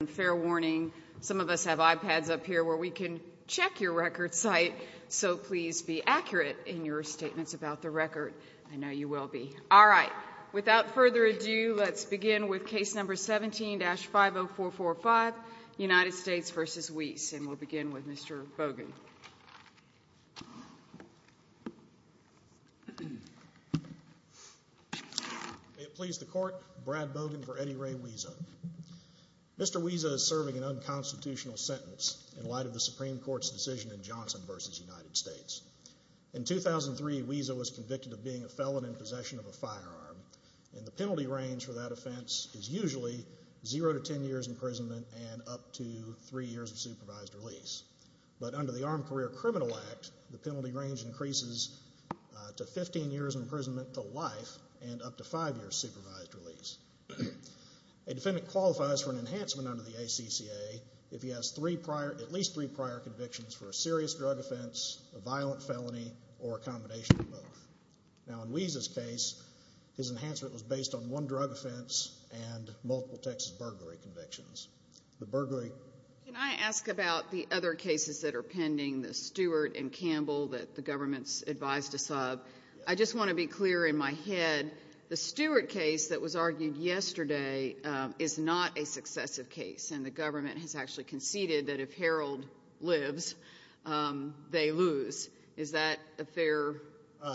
And fair warning, some of us have iPads up here where we can check your record site, so please be accurate in your statements about the record. I know you will be. All right. Without further ado, let's begin with Case No. 17-50445, United States v. Wiese. And we'll begin with Mr. Bogan. May it please the Court, Brad Bogan for Eddie Ray Wiese. Mr. Wiese is serving an unconstitutional sentence in light of the Supreme Court's decision in Johnson v. United States. In 2003, Wiese was convicted of being a felon in possession of a firearm, and the penalty range for that offense is usually 0 to 10 years imprisonment and up to 3 years of supervised release. But under the Armed Career Criminal Act, the penalty range increases to 15 years imprisonment to life and up to 5 years supervised release. A defendant qualifies for an enhancement under the ACCA if he has at least three prior convictions for a serious drug offense, a violent felony, or a combination of both. Now, in Wiese's case, his enhancement was based on one drug offense and multiple Texas burglary convictions. The burglary— is not a successive case, and the government has actually conceded that if Harold lives, they lose. Is that a fair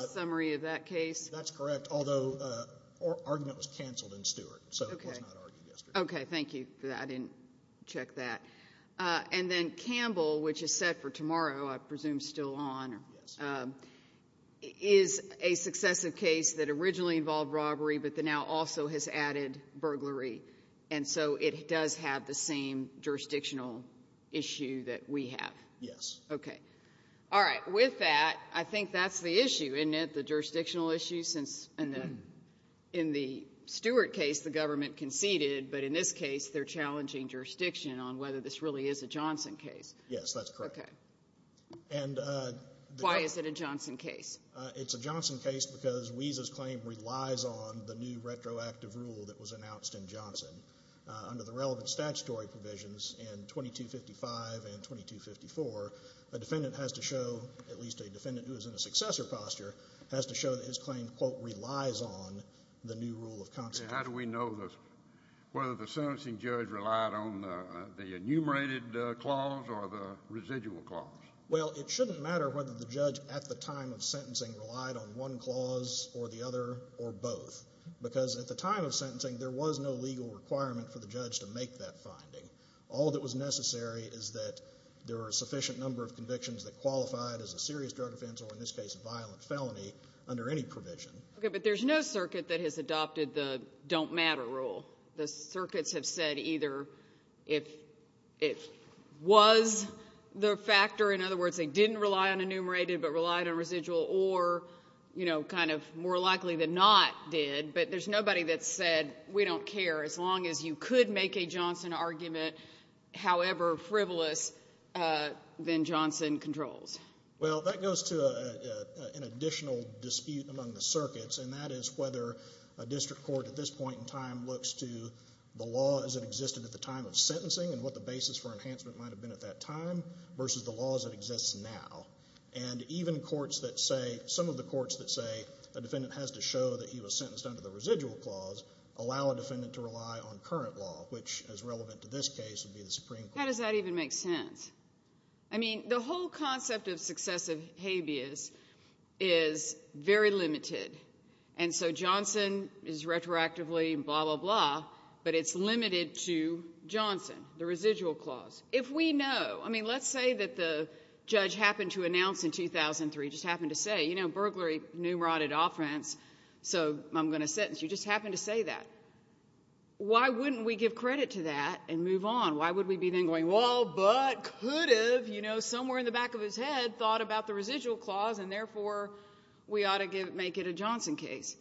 summary of that case? That's correct, although argument was canceled in Stewart, so it was not argued yesterday. Okay. Thank you for that. I didn't check that. And then Campbell, which is set for tomorrow, I presume still on, is a successive case that originally involved robbery but that now also has added burglary. And so it does have the same jurisdictional issue that we have. Yes. Okay. All right. With that, I think that's the issue, isn't it, the jurisdictional issue? In the Stewart case, the government conceded, but in this case, they're challenging jurisdiction on whether this really is a Johnson case. Yes, that's correct. Okay. Why is it a Johnson case? It's a Johnson case because Wiese's claim relies on the new retroactive rule that was announced in Johnson. Under the relevant statutory provisions in 2255 and 2254, a defendant has to show, at least a defendant who is in a successor posture, has to show that his claim, quote, relies on the new rule of consequence. How do we know whether the sentencing judge relied on the enumerated clause or the residual clause? Well, it shouldn't matter whether the judge at the time of sentencing relied on one clause or the other or both, because at the time of sentencing, there was no legal requirement for the judge to make that finding. All that was necessary is that there were a sufficient number of convictions that qualified as a serious drug offense or, in this case, a violent felony under any provision. Okay. But there's no circuit that has adopted the don't matter rule. The circuits have said either if it was the factor, in other words, they didn't rely on enumerated but relied on residual or, you know, kind of more likely than not did, but there's nobody that said we don't care as long as you could make a Johnson argument, however frivolous, then Johnson controls. Well, that goes to an additional dispute among the circuits, and that is whether a district court at this point in time looks to the law as it existed at the time of sentencing and what the basis for enhancement might have been at that time versus the laws that exist now. And even courts that say, some of the courts that say a defendant has to show that he was sentenced under the residual clause allow a defendant to rely on current law, which, as relevant to this case, would be the Supreme Court. How does that even make sense? I mean, the whole concept of successive habeas is very limited, and so Johnson is retroactively blah, blah, blah, but it's limited to Johnson, the residual clause. If we know, I mean, let's say that the judge happened to announce in 2003, just happened to say, you know, burglary enumerated offense, so I'm going to sentence you, just happened to say that. Why wouldn't we give credit to that and move on? Why would we be then going, well, but could have, you know, somewhere in the back of his head thought about the residual clause, and therefore we ought to make it a Johnson case?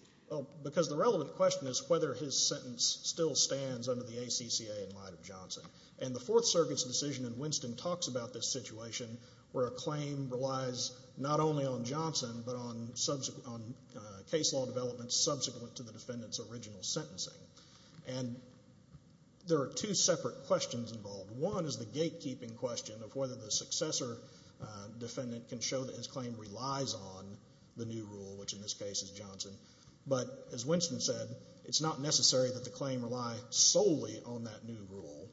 Because the relevant question is whether his sentence still stands under the ACCA in light of Johnson. And the Fourth Circuit's decision in Winston talks about this situation where a claim relies not only on Johnson but on case law developments subsequent to the defendant's original sentencing. And there are two separate questions involved. One is the gatekeeping question of whether the successor defendant can show that his claim relies on the new rule, which in this case is Johnson. But as Winston said, it's not necessary that the claim rely solely on that new rule.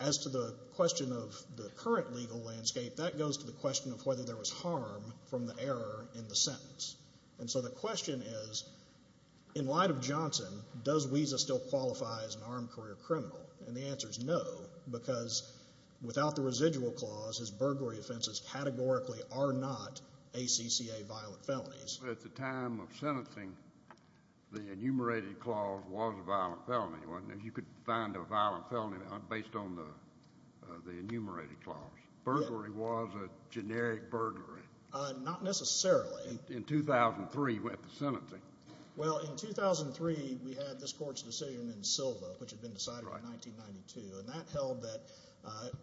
As to the question of the current legal landscape, that goes to the question of whether there was harm from the error in the sentence. And so the question is, in light of Johnson, does WESA still qualify as an armed career criminal? And the answer is no, because without the residual clause, his burglary offenses categorically are not ACCA violent felonies. At the time of sentencing, the enumerated clause was a violent felony, wasn't it? You could find a violent felony based on the enumerated clause. Burglary was a generic burglary. Not necessarily. In 2003 went to sentencing. Well, in 2003 we had this Court's decision in Silva, which had been decided in 1992, and that held that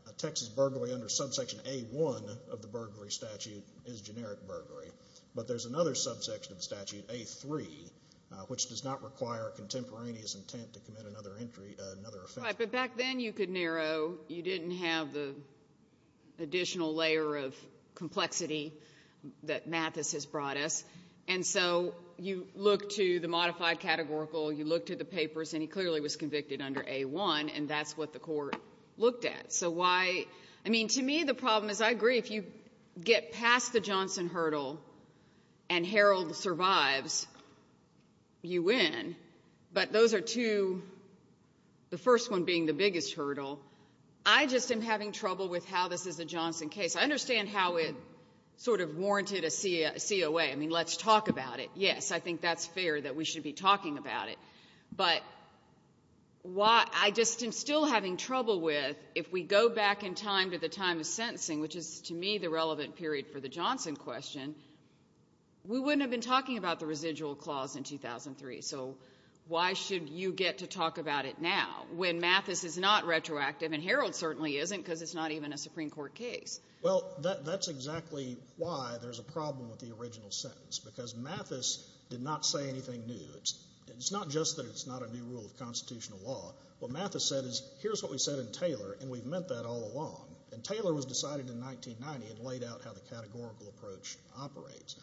a Texas burglary under subsection A-1 of the burglary statute is generic burglary. But there's another subsection of the statute, A-3, which does not require contemporaneous intent to commit another entry, another offense. Right. But back then you could narrow. You didn't have the additional layer of complexity that Mathis has brought us. And so you look to the modified categorical, you look to the papers, and he clearly was convicted under A-1, and that's what the Court looked at. So why, I mean, to me the problem is, I agree, if you get past the Johnson hurdle and Harold survives, you win. But those are two, the first one being the biggest hurdle. I just am having trouble with how this is a Johnson case. I understand how it sort of warranted a COA. I mean, let's talk about it. Yes, I think that's fair that we should be talking about it. But why, I just am still having trouble with, if we go back in time to the time of sentencing, which is, to me, the relevant period for the Johnson question, we wouldn't have been talking about the residual clause in 2003. So why should you get to talk about it now, when Mathis is not retroactive and Harold certainly isn't because it's not even a Supreme Court case? Well, that's exactly why there's a problem with the original sentence, because Mathis did not say anything new. It's not just that it's not a new rule of constitutional law. What Mathis said is, here's what we said in Taylor, and we've meant that all along. And Taylor was decided in 1990 and laid out how the categorical approach operates.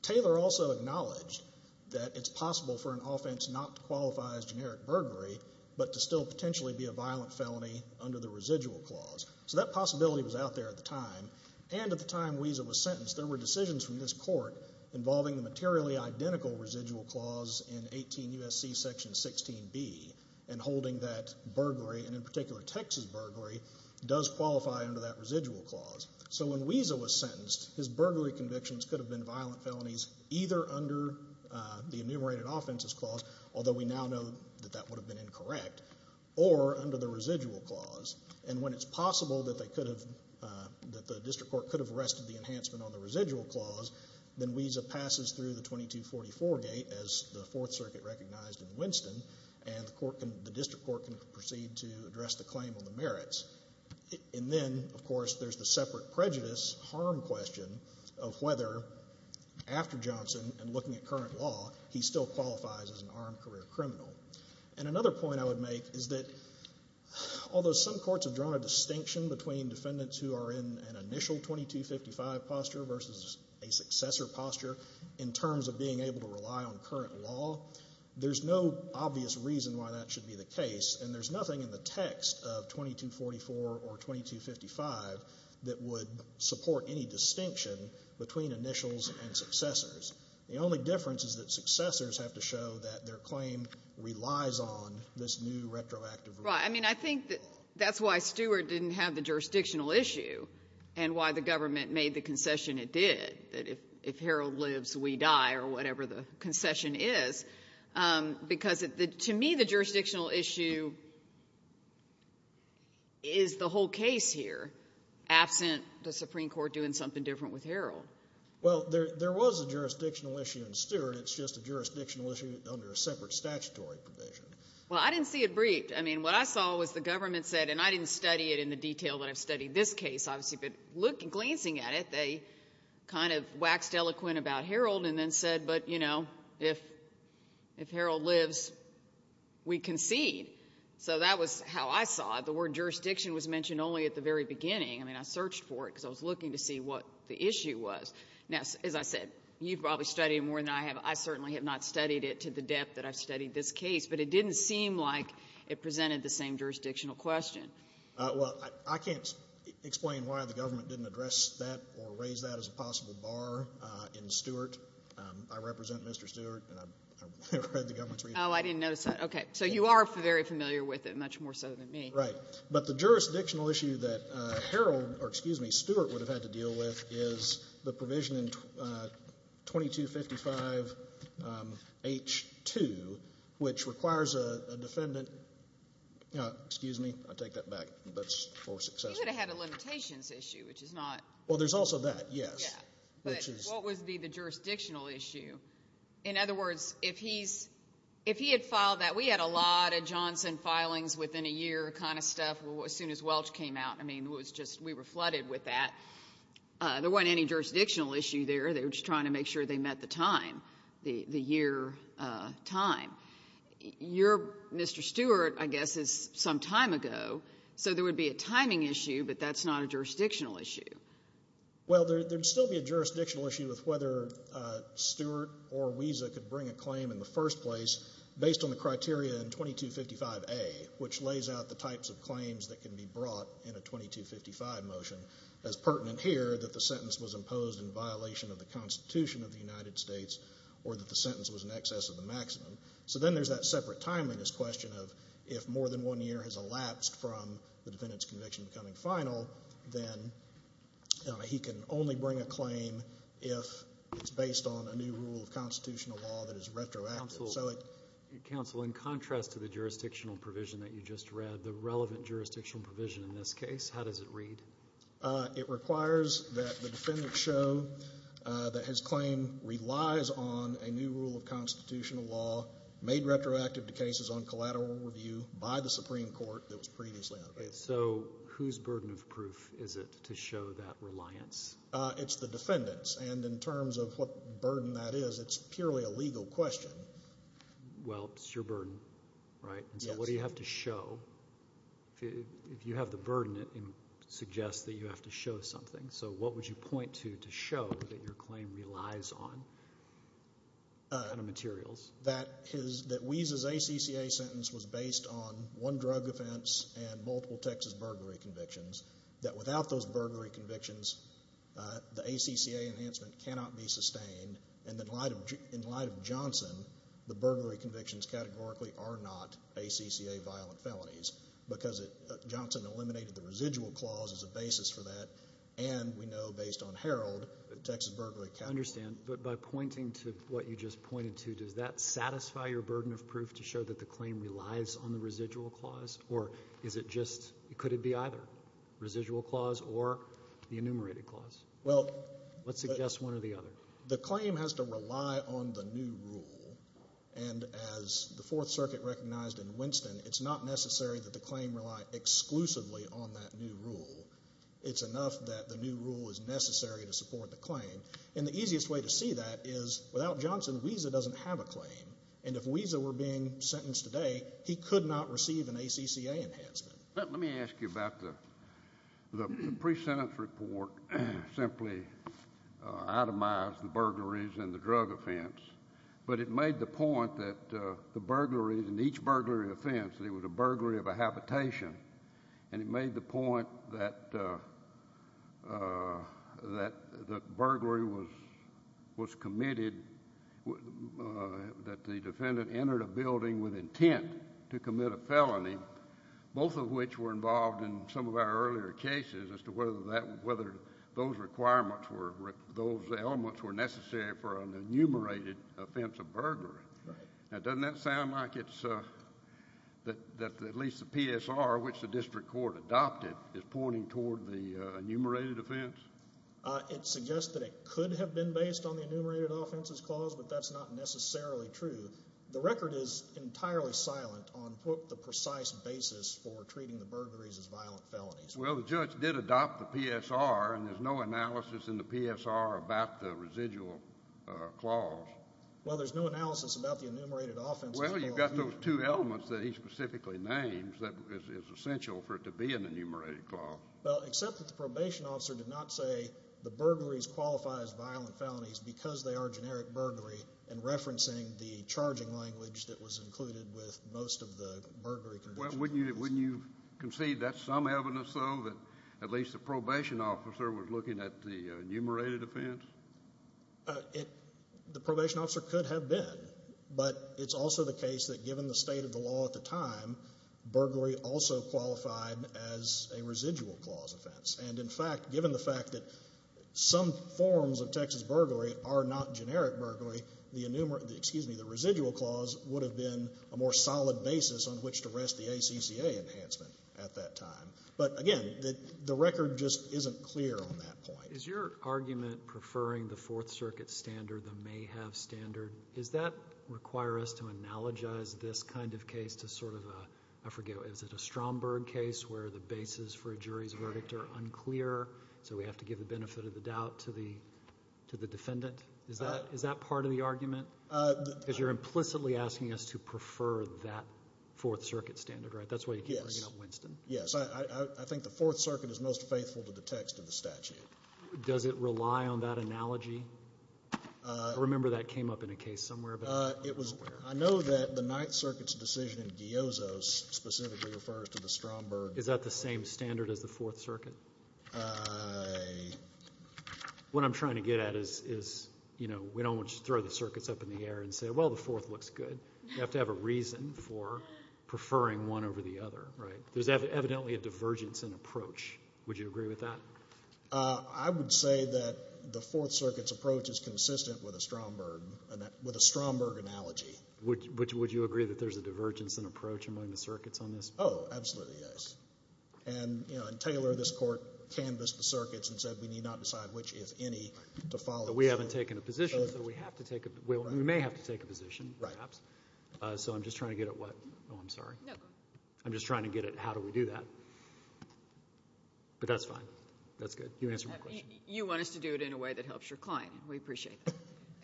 Taylor also acknowledged that it's possible for an offense not to qualify as generic burglary, but to still potentially be a violent felony under the residual clause. So that possibility was out there at the time, and at the time Wiesa was sentenced, there were decisions from this Court involving the materially identical residual clause in 18 U.S.C. Section 16b, and holding that burglary, and in particular Texas burglary, does qualify under that residual clause. So when Wiesa was sentenced, his burglary convictions could have been violent felonies either under the enumerated offenses clause, although we now know that that would have been incorrect, or under the residual clause. And when it's possible that they could have, that the district court could have arrested the enhancement on the residual clause, then Wiesa passes through the 2244 gate, as the Fourth Circuit recognized in Winston, and the court can, the district court can proceed to address the claim on the merits. And then, of course, there's the separate prejudice, harm question, of whether after Johnson and looking at current law, he still qualifies as an armed career criminal. And another point I would make is that although some courts have drawn a distinction between defendants who are in an initial 2255 posture versus a successor posture in terms of being able to rely on current law, there's no obvious reason why that should be the case, and there's nothing in the text of 2244 or 2255 that would support any distinction between initials and successors. The only difference is that successors have to show that their claim relies on this new retroactive rule. Well, I mean, I think that's why Stewart didn't have the jurisdictional issue and why the government made the concession it did, that if Harold lives, we die, or whatever the concession is, because to me the jurisdictional issue is the whole case here, absent the Supreme Court doing something different with Harold. Well, there was a jurisdictional issue in Stewart. It's just a jurisdictional issue under a separate statutory provision. Well, I didn't see it briefed. I mean, what I saw was the government said, and I didn't study it in the detail that I've studied this case, obviously, but glancing at it, they kind of waxed eloquent about Harold and then said, but, you know, if Harold lives, we concede. So that was how I saw it. The word jurisdiction was mentioned only at the very beginning. I mean, I searched for it because I was looking to see what the issue was. Now, as I said, you've probably studied it more than I have. I certainly have not studied it to the depth that I've studied this case, but it didn't seem like it presented the same jurisdictional question. Well, I can't explain why the government didn't address that or raise that as a possible bar in Stewart. I represent Mr. Stewart, and I've read the government's reading. Oh, I didn't notice that. Okay. So you are very familiar with it, much more so than me. Right. But the jurisdictional issue that Harold or, excuse me, Stewart would have had to deal with is the provision in 2255H2, which requires a defendant, excuse me, I take that back. That's for success. He would have had a limitations issue, which is not. Well, there's also that, yes. Yeah. But what would be the jurisdictional issue? In other words, if he had filed that, we had a lot of Johnson filings within a year kind of stuff as soon as Welch came out. I mean, it was just we were flooded with that. There wasn't any jurisdictional issue there. They were just trying to make sure they met the time, the year time. Your Mr. Stewart, I guess, is some time ago, so there would be a timing issue, but that's not a jurisdictional issue. Well, there would still be a jurisdictional issue with whether Stewart or Wiesa could bring a claim in the first place based on the criteria in 2255A, which lays out the 2255 motion as pertinent here that the sentence was imposed in violation of the Constitution of the United States or that the sentence was in excess of the maximum. So then there's that separate timeliness question of if more than one year has elapsed from the defendant's conviction becoming final, then he can only bring a claim if it's based on a new rule of constitutional law that is retroactive. Counsel, in contrast to the jurisdictional provision that you just read, the relevant jurisdictional provision in this case, how does it read? It requires that the defendant show that his claim relies on a new rule of constitutional law made retroactive to cases on collateral review by the Supreme Court that was previously out of it. So whose burden of proof is it to show that reliance? It's the defendant's, and in terms of what burden that is, it's purely a legal question. Well, it's your burden, right? Yes. So what do you have to show? If you have the burden, it suggests that you have to show something. So what would you point to to show that your claim relies on materials? That Wiese's ACCA sentence was based on one drug offense and multiple Texas burglary convictions, that without those burglary convictions, the ACCA enhancement cannot be sustained, and in light of Johnson, the burglary convictions categorically are not ACCA violent felonies because Johnson eliminated the residual clause as a basis for that, and we know based on Herald that Texas burglary can't be eliminated. I understand. But by pointing to what you just pointed to, does that satisfy your burden of proof to show that the claim relies on the residual clause, or is it just, could it be either residual clause or the enumerated clause? Let's suggest one or the other. The claim has to rely on the new rule, and as the Fourth Circuit recognized in Winston, it's not necessary that the claim rely exclusively on that new rule. It's enough that the new rule is necessary to support the claim, and the easiest way to see that is without Johnson, Wiese doesn't have a claim, and if Wiese were being sentenced today, he could not receive an ACCA enhancement. Let me ask you about the pre-sentence report simply itemized the burglaries and the drug offense, but it made the point that the burglaries and each burglary offense, it was a burglary of a habitation, and it made the point that the burglary was committed, that the defendant entered a building with intent to commit a felony, both of which were involved in some of our earlier cases as to whether those requirements were, those elements were necessary for an enumerated offense of burglary. Doesn't that sound like it's, that at least the PSR, which the district court adopted, is pointing toward the enumerated offense? It suggests that it could have been based on the enumerated offenses clause, but that's not necessarily true. The record is entirely silent on, quote, the precise basis for treating the burglaries as violent felonies. Well, the judge did adopt the PSR, and there's no analysis in the PSR about the residual clause. Well, there's no analysis about the enumerated offenses clause either. Well, you've got those two elements that he specifically names that is essential for it to be an enumerated clause. Well, except that the probation officer did not say the burglaries qualify as violent that was included with most of the burglary conditions. Well, wouldn't you concede that's some evidence, though, that at least the probation officer was looking at the enumerated offense? The probation officer could have been, but it's also the case that given the state of the law at the time, burglary also qualified as a residual clause offense. And, in fact, given the fact that some forms of Texas burglary are not generic burglary, the residual clause would have been a more solid basis on which to rest the ACCA enhancement at that time. But, again, the record just isn't clear on that point. Is your argument preferring the Fourth Circuit standard, the may have standard, does that require us to analogize this kind of case to sort of a, I forget, is it a Stromberg case where the basis for a jury's verdict are unclear, so we have to give the benefit of the doubt to the defendant? Is that part of the argument? Because you're implicitly asking us to prefer that Fourth Circuit standard, right? That's why you keep bringing up Winston. Yes. I think the Fourth Circuit is most faithful to the text of the statute. Does it rely on that analogy? I remember that came up in a case somewhere, but I'm not aware. I know that the Ninth Circuit's decision in Gyozo specifically refers to the Stromberg. Is that the same standard as the Fourth Circuit? What I'm trying to get at is, you know, we don't want you to throw the circuits up in the air and say, well, the Fourth looks good. You have to have a reason for preferring one over the other, right? There's evidently a divergence in approach. Would you agree with that? I would say that the Fourth Circuit's approach is consistent with a Stromberg analogy. Would you agree that there's a divergence in approach among the circuits on this? Oh, absolutely, yes. And, you know, in Taylor, this Court canvassed the circuits and said we need not decide which, if any, to follow. But we haven't taken a position, so we have to take a position. We may have to take a position, perhaps. Right. So I'm just trying to get at what? Oh, I'm sorry. No, go ahead. I'm just trying to get at how do we do that. But that's fine. That's good. You answered my question. You want us to do it in a way that helps your client. We appreciate that.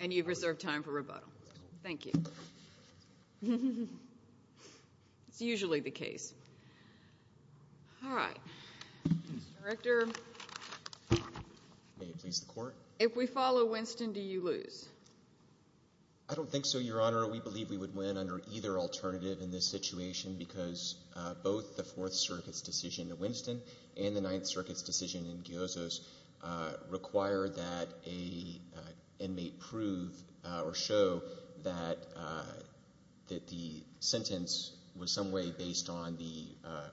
And you've reserved time for rebuttal. Thank you. It's usually the case. All right. Mr. Director. May it please the Court. If we follow Winston, do you lose? I don't think so, Your Honor. We believe we would win under either alternative in this situation because both the Fourth Circuit's decision in Winston and the Ninth Circuit's decision in Giozo's require that an inmate prove or show that the sentence was some way based on the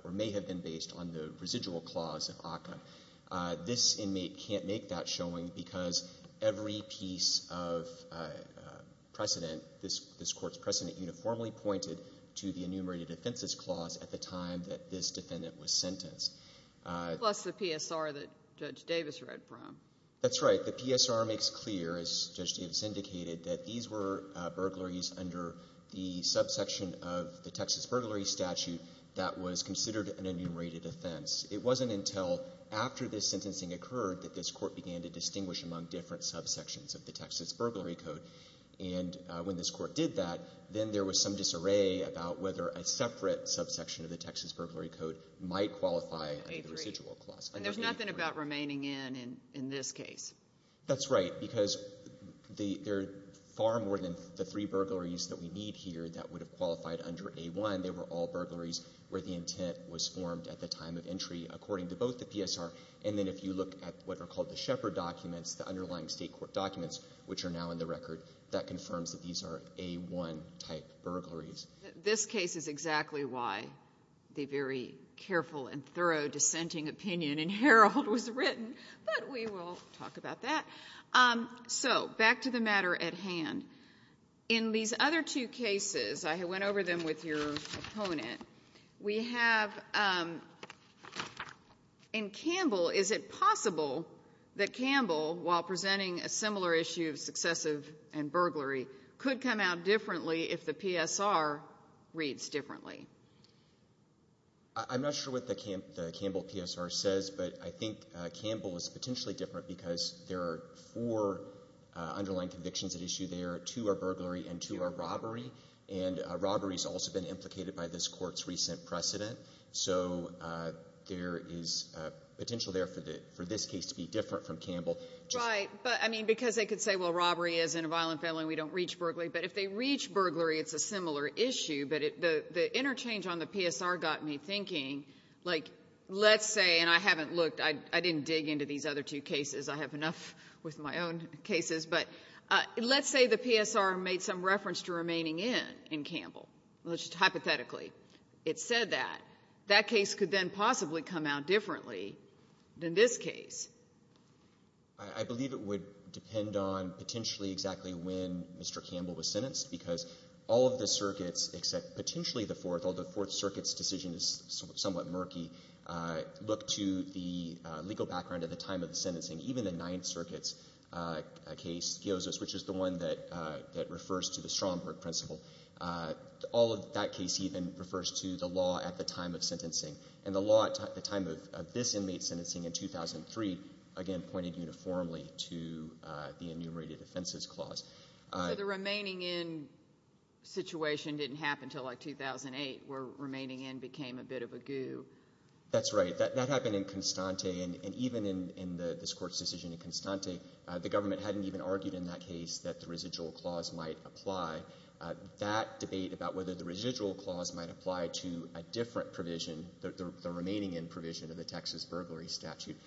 or may have been based on the residual clause of ACCA. This inmate can't make that showing because every piece of precedent, this Court's precedent uniformly pointed to the enumerated offenses clause at the time that this defendant was sentenced. Plus the PSR that Judge Davis read from. That's right. The PSR makes clear, as Judge Davis indicated, that these were burglaries under the subsection of the Texas Burglary Statute that was considered an enumerated offense. It wasn't until after this sentencing occurred that this Court began to distinguish among different subsections of the Texas Burglary Code. And when this Court did that, then there was some disarray about whether a separate subsection of the Texas Burglary Code might qualify under the residual clause. And there's nothing about remaining in in this case. That's right. Because there are far more than the three burglaries that we need here that would have qualified under A-1. They were all burglaries where the intent was formed at the time of entry according to both the PSR. And then if you look at what are called the Shepard documents, the underlying State court documents which are now in the record, that confirms that these are A-1 type burglaries. This case is exactly why the very careful and thorough dissenting opinion in Herald was written. But we will talk about that. So back to the matter at hand. In these other two cases, I went over them with your opponent, we have in Campbell, is it possible that Campbell, while presenting a similar issue of successive and burglary, could come out differently if the PSR reads differently? I'm not sure what the Campbell PSR says, but I think Campbell is potentially different because there are four underlying convictions at issue there. Two are burglary and two are robbery. And robbery has also been implicated by this Court's recent precedent. So there is potential there for this case to be different from Campbell. Right. But, I mean, because they could say, well, robbery is in a violent felony, we don't reach burglary. But if they reach burglary, it's a similar issue. But the interchange on the PSR got me thinking. Like, let's say, and I haven't looked, I didn't dig into these other two cases. I have enough with my own cases. But let's say the PSR made some reference to remaining in in Campbell, just hypothetically. It said that. That case could then possibly come out differently than this case. I believe it would depend on potentially exactly when Mr. Campbell was sentenced, because all of the circuits except potentially the Fourth, although the Fourth Circuit's decision is somewhat murky, look to the legal background at the time of the sentencing. Even the Ninth Circuit's case, Giosis, which is the one that refers to the Stromberg principle, all of that case even refers to the law at the time of sentencing. And the law at the time of this inmate's sentencing in 2003, again, pointed uniformly to the enumerated offenses clause. So the remaining in situation didn't happen until, like, 2008, where remaining in became a bit of a goo. That's right. That happened in Constante. And even in this Court's decision in Constante, the government hadn't even argued in that case that the residual clause might apply. That debate about whether the residual clause might apply to a different provision, the remaining in provision of the Texas burglary statute,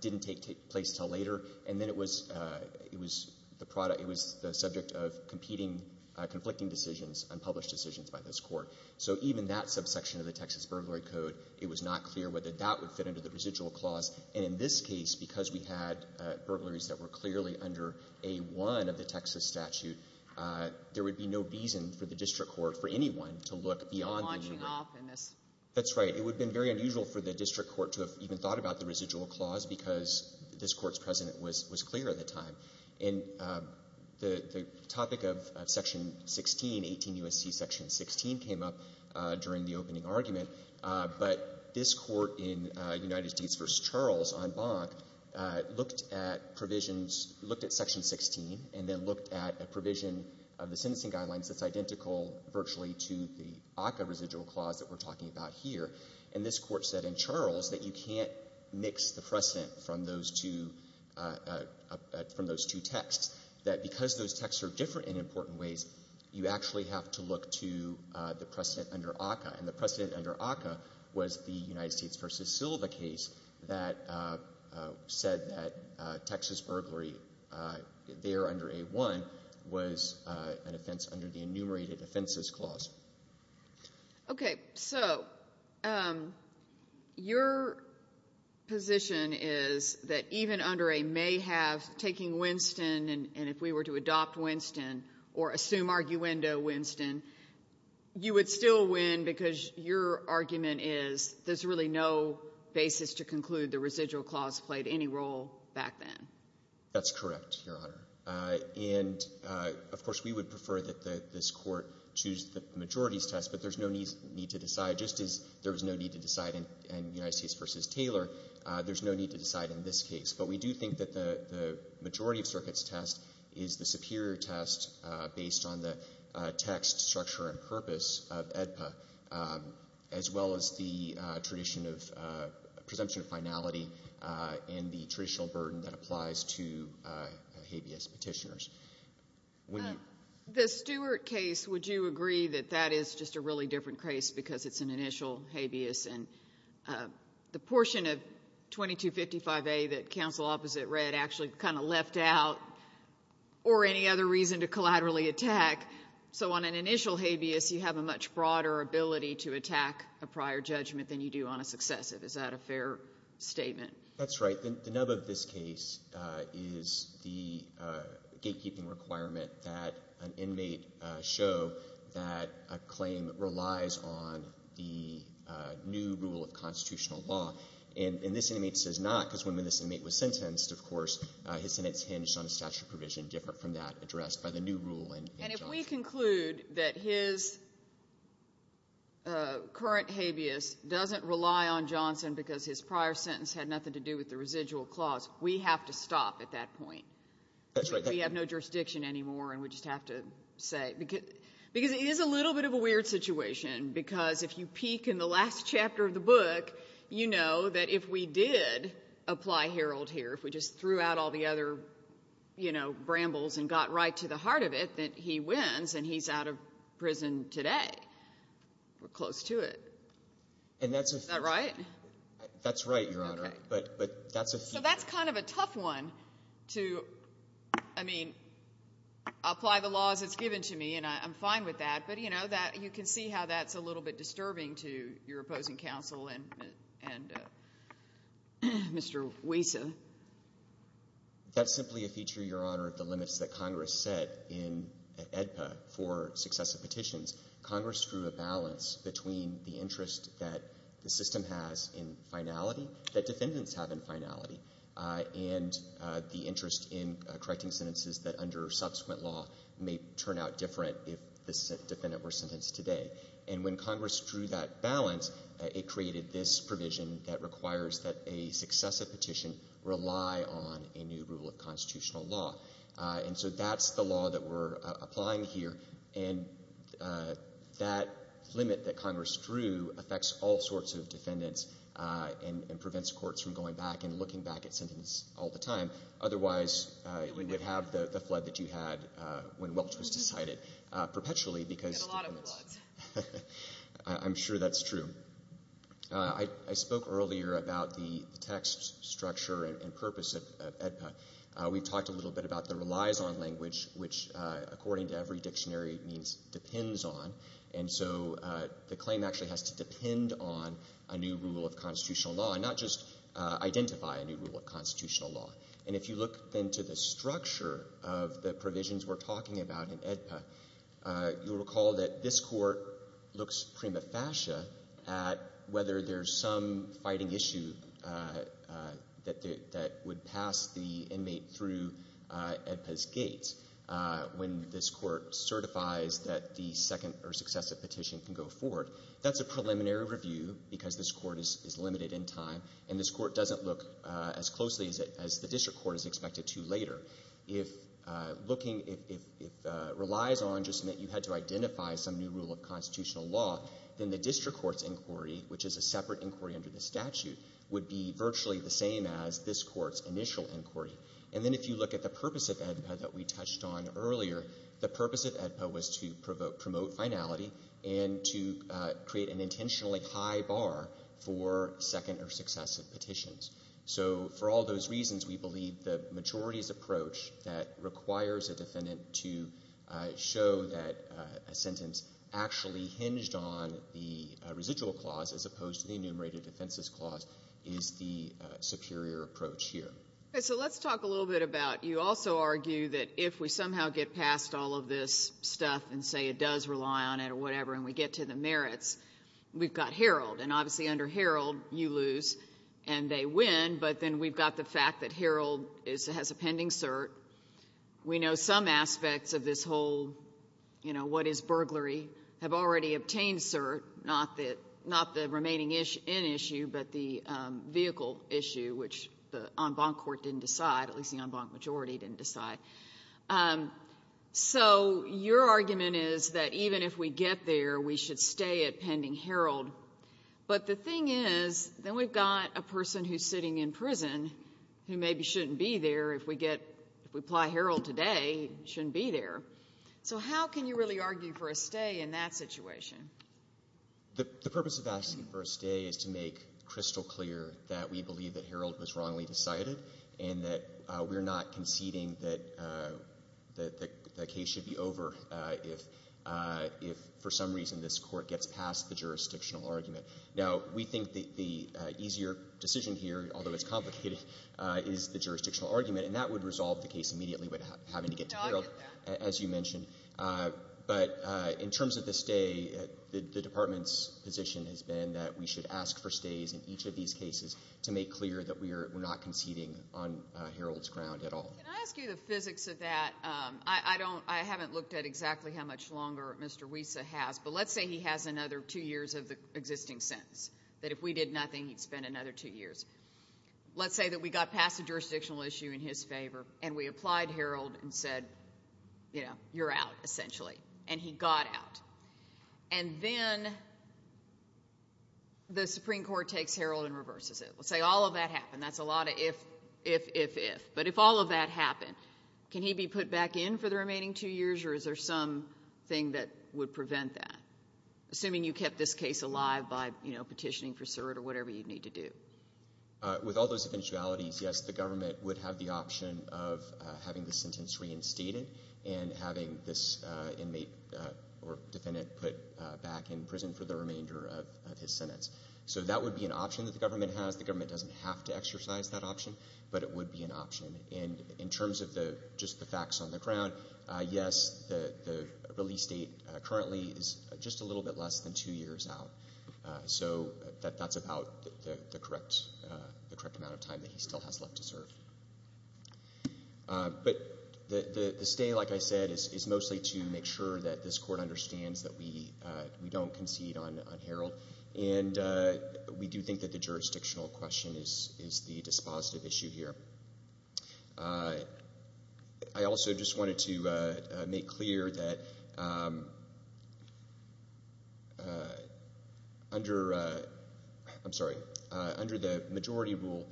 didn't take place until later. And then it was the product, it was the subject of competing, conflicting decisions and published decisions by this Court. So even that subsection of the Texas burglary code, it was not clear whether that would fit under the residual clause. And in this case, because we had burglaries that were clearly under A-1 of the Texas statute, there would be no reason for the district court, for anyone, to look beyond that. Sotomayor. That's right. It would have been very unusual for the district court to have even thought about the residual clause because this Court's precedent was clear at the time. And the topic of Section 16, 18 U.S.C. Section 16, came up during the opening argument. But this Court in United States v. Charles on Bonk looked at provisions, looked at Section 16 and then looked at a provision of the sentencing guidelines that's identical virtually to the ACCA residual clause that we're talking about here. And this Court said in Charles that you can't mix the precedent from those two texts, that because those texts are different in important ways, you actually have to look to the precedent under ACCA. And the precedent under ACCA was the United States v. Silva case that said that Texas burglary there under A-1 was an offense under the enumerated offenses clause. Okay. So your position is that even under a may have taking Winston and if we were to adopt Winston or assume arguendo Winston, you would still win because your argument is there's really no basis to conclude the residual clause played any role back then. That's correct, Your Honor. And, of course, we would prefer that this Court choose the majorities test, but there's no need to decide. Just as there was no need to decide in United States v. Taylor, there's no need to decide in this case. But we do think that the majority of circuits test is the superior test based on the text structure and purpose of AEDPA, as well as the tradition of presumption of finality and the traditional burden that applies to habeas petitioners. The Stewart case, would you agree that that is just a really different case because it's an initial habeas and the portion of 2255A that counsel opposite read actually kind of left out or any other reason to collaterally attack. So on an initial habeas, you have a much broader ability to attack a prior judgment than you do on a successive. Is that a fair statement? That's right. The nub of this case is the gatekeeping requirement that an inmate show that a claim relies on the new rule of constitutional law. And this inmate says not because when this inmate was sentenced, of course, his sentence hinged on a statute of provision different from that addressed by the new rule in Johnston. And if we conclude that his current habeas doesn't rely on Johnston because his prior sentence had nothing to do with the residual clause, we have to stop at that point. That's right. We have no jurisdiction anymore, and we just have to say, because it is a little bit of a weird situation, because if you peek in the last chapter of the book, you know that if we did apply Herald here, if we just threw out all the other, you know, he wins and he's out of prison today. We're close to it. And that's a feature. Is that right? That's right, Your Honor. Okay. But that's a feature. So that's kind of a tough one to, I mean, apply the laws it's given to me, and I'm fine with that. But, you know, you can see how that's a little bit disturbing to your opposing counsel and Mr. Wiesa. That's simply a feature, Your Honor, of the limits that Congress set in AEDPA for successive petitions. Congress drew a balance between the interest that the system has in finality, that defendants have in finality, and the interest in correcting sentences that under subsequent law may turn out different if the defendant were sentenced today. And when Congress drew that balance, it created this provision that requires that a successive petition rely on a new rule of constitutional law. And so that's the law that we're applying here. And that limit that Congress drew affects all sorts of defendants and prevents courts from going back and looking back at sentences all the time. Otherwise, you would have the flood that you had when Welch was decided perpetually because defendants. You had a lot of floods. I'm sure that's true. I spoke earlier about the text structure and purpose of AEDPA. We talked a little bit about the relies on language, which according to every dictionary means depends on. And so the claim actually has to depend on a new rule of constitutional law and not just identify a new rule of constitutional law. And if you look then to the structure of the provisions we're talking about in AEDPA, you'll recall that this court looks prima facie at whether there's some fighting issue that would pass the inmate through AEDPA's gates when this court certifies that the second or successive petition can go forward. That's a preliminary review because this court is limited in time, and this court doesn't look as closely as the district court is expected to later. If looking, if it relies on just that you had to identify some new rule of constitutional law, then the district court's inquiry, which is a separate inquiry under the statute, would be virtually the same as this court's initial inquiry. And then if you look at the purpose of AEDPA that we touched on earlier, the purpose of AEDPA was to promote finality and to create an intentionally high bar for second or successive petitions. So for all those reasons, we believe the majorities approach that requires a defendant to show that a sentence actually hinged on the residual clause as opposed to the enumerated offenses clause is the superior approach here. Okay. So let's talk a little bit about you also argue that if we somehow get past all of this stuff and say it does rely on it or whatever and we get to the merits, we've got Herald. And obviously under Herald, you lose and they win, but then we've got the fact that Herald has a pending cert. We know some aspects of this whole, you know, what is burglary have already obtained cert, not the remaining in issue, but the vehicle issue, which the en banc court didn't decide, at least the en banc majority didn't decide. So your argument is that even if we get there, we should stay at pending Herald. But the thing is, then we've got a person who's sitting in prison who maybe shouldn't be there if we get, if we apply Herald today, shouldn't be there. So how can you really argue for a stay in that situation? The purpose of asking for a stay is to make crystal clear that we believe that the case should be over if for some reason this court gets past the jurisdictional argument. Now, we think the easier decision here, although it's complicated, is the jurisdictional argument, and that would resolve the case immediately without having to get to Herald, as you mentioned. But in terms of the stay, the Department's position has been that we should ask for stays in each of these cases to make clear that we're not conceding on Herald's ground at all. Can I ask you the physics of that? I haven't looked at exactly how much longer Mr. Wiesa has, but let's say he has another two years of the existing sentence, that if we did nothing, he'd spend another two years. Let's say that we got past the jurisdictional issue in his favor and we applied Herald and said, you know, you're out, essentially, and he got out. And then the Supreme Court takes Herald and reverses it. Let's say all of that happened. That's a lot of if, if, if, if. But if all of that happened, can he be put back in for the remaining two years, or is there something that would prevent that, assuming you kept this case alive by, you know, petitioning for cert or whatever you'd need to do? With all those eventualities, yes, the government would have the option of having the sentence reinstated and having this inmate or defendant put back in prison for the remainder of his sentence. So that would be an option that the government has. The government doesn't have to exercise that option, but it would be an option. And in terms of just the facts on the ground, yes, the release date currently is just a little bit less than two years out. So that's about the correct amount of time that he still has left to serve. But the stay, like I said, is mostly to make sure that this court understands that we don't concede on Herald. And we do think that the jurisdictional question is the dispositive issue here. I also just wanted to make clear that under, I'm sorry, under the majority rule,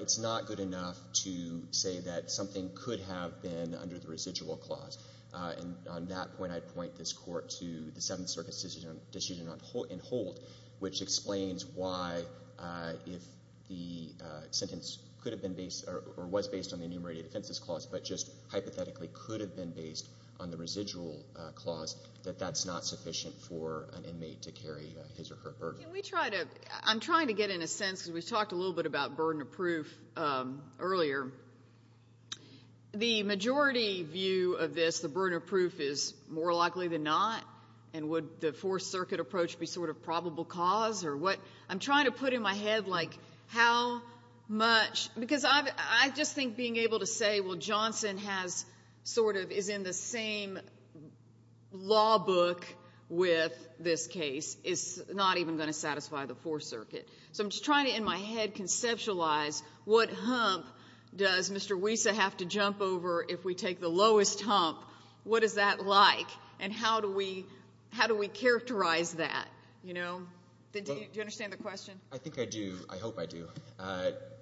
it's not good enough to say that something could have been under the residual clause. And on that point, I'd point this court to the Seventh Circuit's decision in hold, which explains why if the sentence could have been based or was based on the enumerated offenses clause, but just hypothetically could have been based on the residual clause, that that's not sufficient for an inmate to carry his or her burden. Can we try to – I'm trying to get in a sense, because we talked a little bit about burden of proof earlier. The majority view of this, the burden of proof, is more likely than not. And would the Fourth Circuit approach be sort of probable cause? Or what – I'm trying to put in my head, like, how much – because I just think being able to say, well, Johnson has sort of – is in the same law book with this case is not even going to satisfy the Fourth Circuit. So I'm just trying to, in my head, conceptualize what hump does Mr. Wiesa have to jump over if we take the lowest hump? What is that like? And how do we characterize that, you know? Do you understand the question? I think I do. I hope I do.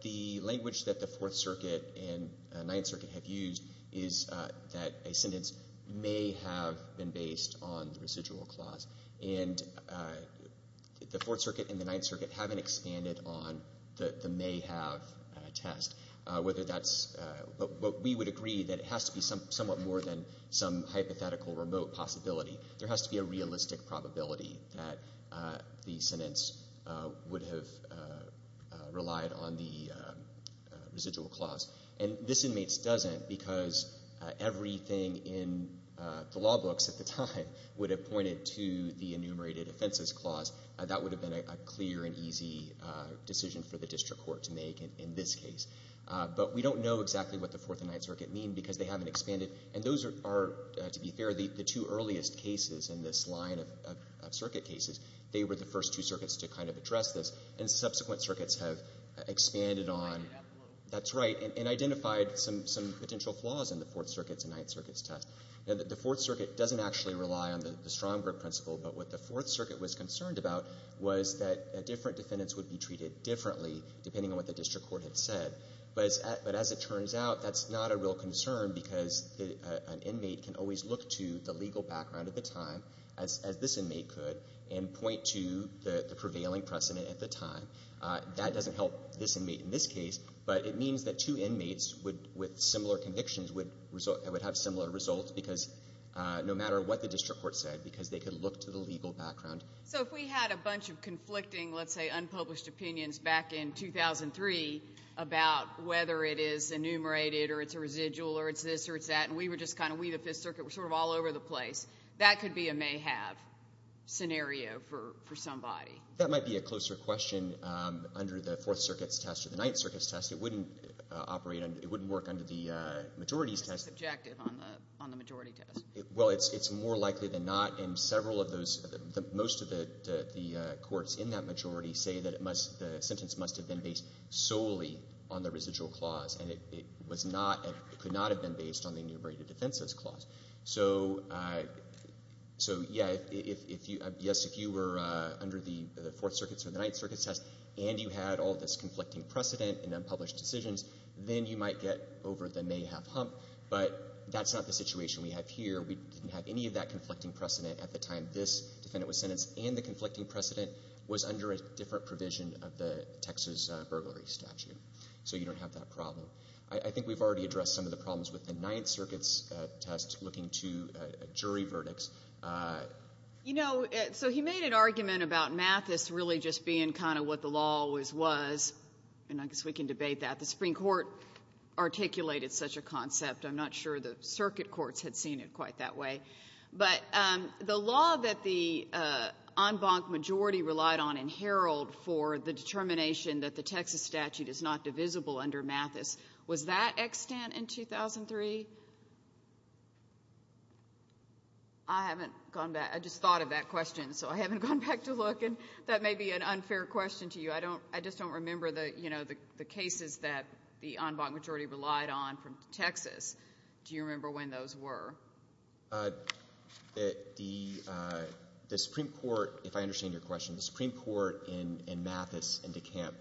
The language that the Fourth Circuit and Ninth Circuit have used is that a sentence may have been based on the residual clause. And the Fourth Circuit and the Ninth Circuit haven't expanded on the may have test, whether that's – but we would agree that it has to be somewhat more than some hypothetical remote possibility. There has to be a realistic probability that the sentence would have relied on the residual clause. And this inmates doesn't, because everything in the law books at the time would have pointed to the enumerated offenses clause. That would have been a clear and easy decision for the district court to make in this case. But we don't know exactly what the Fourth and Ninth Circuit mean, because they haven't expanded. And those are, to be fair, the two earliest cases in this line of circuit cases. They were the first two circuits to kind of address this. And subsequent circuits have expanded on – That's right. And identified some potential flaws in the Fourth Circuit's and Ninth Circuit's test. And the Fourth Circuit doesn't actually rely on the strong group principle. But what the Fourth Circuit was concerned about was that different defendants would be treated differently, depending on what the district court had said. But as it turns out, that's not a real concern, because an inmate can always look to the legal background at the time, as this inmate could, and point to the prevailing precedent at the time. That doesn't help this inmate in this case. But it means that two inmates with similar convictions would have similar results, because no matter what the district court said, because they could look to the legal background. So if we had a bunch of conflicting, let's say unpublished opinions back in 2003 about whether it is enumerated or it's a residual or it's this or it's that, and we were just kind of – we, the Fifth Circuit, were sort of all over the place, that could be a may-have scenario for somebody. That might be a closer question under the Fourth Circuit's test or the Ninth Circuit's test. It wouldn't operate – it wouldn't work under the majority's test. That's subjective on the majority test. Well, it's more likely than not. And several of those – most of the courts in that majority say that it must – the sentence must have been based solely on the residual clause. And it was not – it could not have been based on the enumerated defenses clause. So, yeah, if you – yes, if you were under the Fourth Circuit's or the Ninth Circuit's test and you had all this conflicting precedent and unpublished decisions, then you might get over the may-have hump. But that's not the situation we have here. We didn't have any of that conflicting precedent at the time this defendant was sentenced, and the conflicting precedent was under a different provision of the Texas burglary statute. So you don't have that problem. I think we've already addressed some of the problems with the Ninth Circuit's test looking to jury verdicts. You know, so he made an argument about Mathis really just being kind of what the law always was. And I guess we can debate that. The Supreme Court articulated such a concept. I'm not sure the circuit courts had seen it quite that way. But the law that the en banc majority relied on in Herald for the determination that the Texas statute is not divisible under Mathis, was that extant in 2003? I haven't gone back. I just thought of that question, so I haven't gone back to look. And that may be an unfair question to you. I just don't remember the, you know, the cases that the en banc majority relied on from Texas. Do you remember when those were? The Supreme Court, if I understand your question, the Supreme Court in Mathis and DeCamp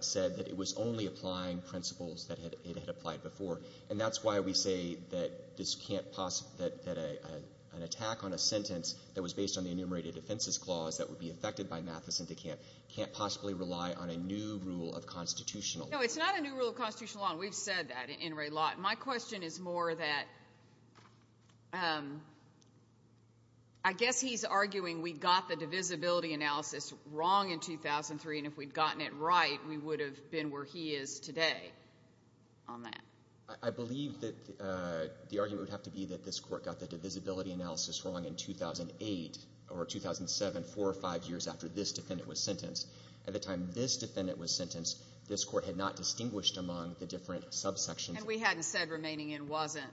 said that it was only applying principles that it had applied before. And that's why we say that an attack on a sentence that was based on the enumerated offenses clause that would be affected by Mathis and DeCamp can't possibly rely on a new rule of constitutional law. No, it's not a new rule of constitutional law, and we've said that in Ray Lott. My question is more that I guess he's arguing we got the divisibility analysis wrong in 2003, and if we'd gotten it right, we would have been where he is today on that. I believe that the argument would have to be that this Court got the divisibility analysis wrong in 2008 or 2007, four or five years after this defendant was sentenced. At the time this defendant was sentenced, this Court had not distinguished among the different subsections. And we hadn't said remaining in wasn't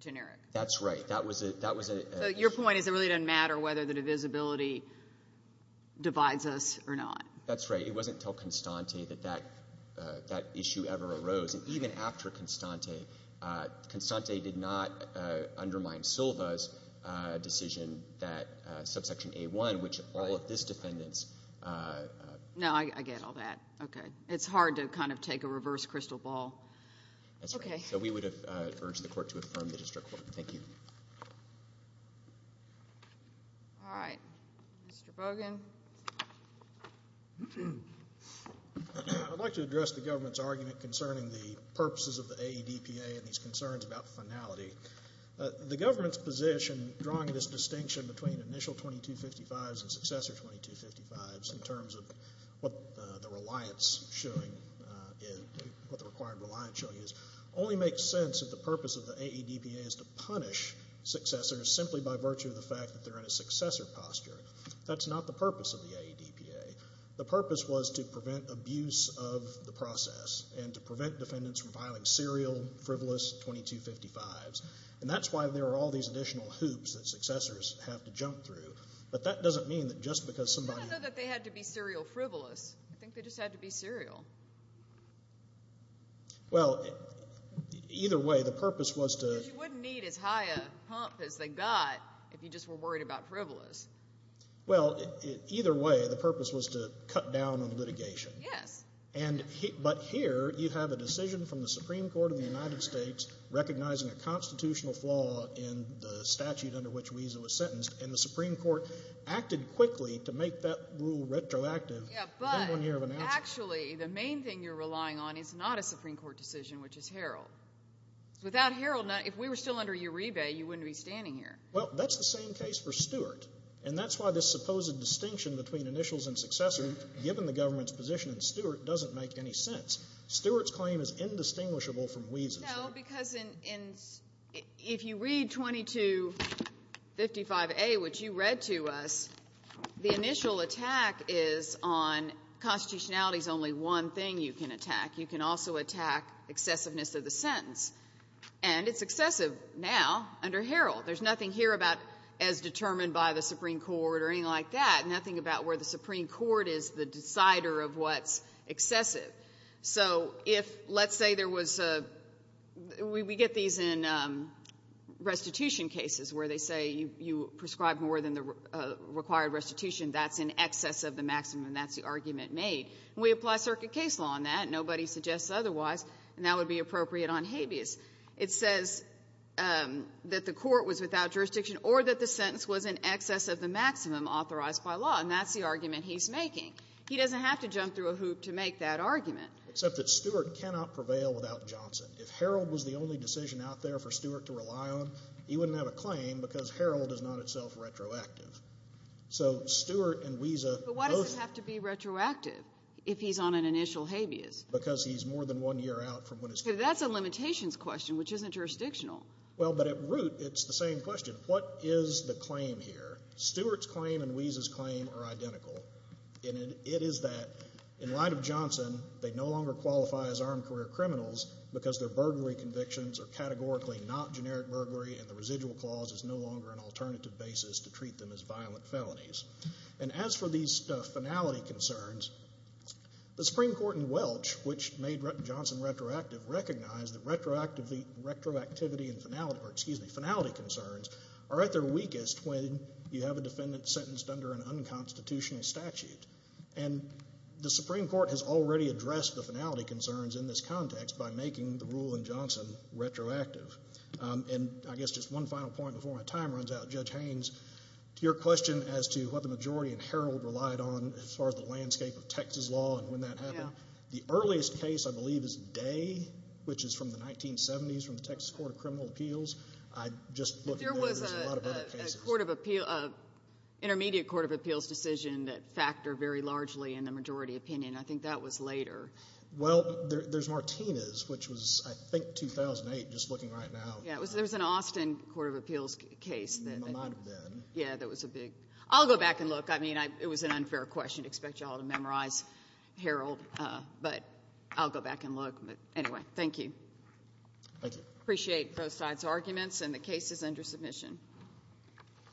generic. That's right. That was a question. So your point is it really doesn't matter whether the divisibility divides us or not. That's right. It wasn't until Constante that that issue ever arose. And even after Constante, Constante did not undermine Silva's decision that subsection A-1, which all of this defendant's. No, I get all that. Okay. It's hard to kind of take a reverse crystal ball. That's right. Okay. So we would have urged the Court to affirm the district court. Thank you. All right. Mr. Bogan. I'd like to address the government's argument concerning the purposes of the AEDPA and these concerns about finality. The government's position drawing this distinction between initial 2255s and successor 2255s in terms of what the reliance showing is, what the required reliance showing is, only makes sense if the purpose of the AEDPA is to punish successors simply by virtue of the fact that they're in a successor posture. That's not the purpose of the AEDPA. The purpose was to prevent abuse of the process and to prevent defendants from filing serial frivolous 2255s. And that's why there are all these additional hoops that successors have to jump through. But that doesn't mean that just because somebody. I don't know that they had to be serial frivolous. I think they just had to be serial. Well, either way, the purpose was to. Because you wouldn't need as high a hump as they got if you just were worried about frivolous. Well, either way, the purpose was to cut down on litigation. Yes. But here you have a decision from the Supreme Court of the United States recognizing a constitutional flaw in the statute under which Wiesa was sentenced, and the Supreme Court acted quickly to make that rule retroactive. Yeah, but actually the main thing you're relying on is not a Supreme Court decision, which is Harold. Without Harold, if we were still under Uribe, you wouldn't be standing here. Well, that's the same case for Stewart. And that's why this supposed distinction between initials and successors, given the government's position in Stewart, doesn't make any sense. Stewart's claim is indistinguishable from Wiesa's. No, because if you read 2255a, which you read to us, the initial attack is on constitutionality is only one thing you can attack. You can also attack excessiveness of the sentence. And it's excessive now under Harold. There's nothing here about as determined by the Supreme Court or anything like that, nothing about where the Supreme Court is the decider of what's excessive. So if let's say there was a we get these in restitution cases where they say you prescribe more than the required restitution, that's in excess of the maximum. That's the argument made. We apply circuit case law on that. Nobody suggests otherwise. And that would be appropriate on habeas. It says that the court was without jurisdiction or that the sentence was in excess of the maximum authorized by law. And that's the argument he's making. He doesn't have to jump through a hoop to make that argument. Except that Stewart cannot prevail without Johnson. If Harold was the only decision out there for Stewart to rely on, he wouldn't have a claim because Harold is not itself retroactive. So Stewart and Wiesa both have to be retroactive. If he's on an initial habeas. Because he's more than one year out from when his. That's a limitations question which isn't jurisdictional. Well, but at root it's the same question. What is the claim here? Stewart's claim and Wiesa's claim are identical. And it is that in light of Johnson, they no longer qualify as armed career criminals because their burglary convictions are categorically not generic burglary and the residual clause is no longer an alternative basis to treat them as violent felonies. And as for these finality concerns, the Supreme Court in Welch, which made Johnson retroactive, recognized that finality concerns are at their weakest when you have a defendant sentenced under an unconstitutional statute. And the Supreme Court has already addressed the finality concerns in this context by making the rule in Johnson retroactive. And I guess just one final point before my time runs out. Judge Haynes, to your question as to what the majority in Herald relied on as far as the landscape of Texas law and when that happened, the earliest case I believe is Day, which is from the 1970s, from the Texas Court of Criminal Appeals. I just look at that as a lot of other cases. But there was a court of appeal, an intermediate court of appeals decision that factored very largely in the majority opinion. I think that was later. Well, there's Martinez, which was I think 2008, just looking right now. Yeah, there was an Austin court of appeals case. It might have been. Yeah, that was a big. I'll go back and look. I mean, it was an unfair question. I expect you all to memorize Herald. But I'll go back and look. But anyway, thank you. Thank you. Appreciate both sides' arguments, and the case is under submission.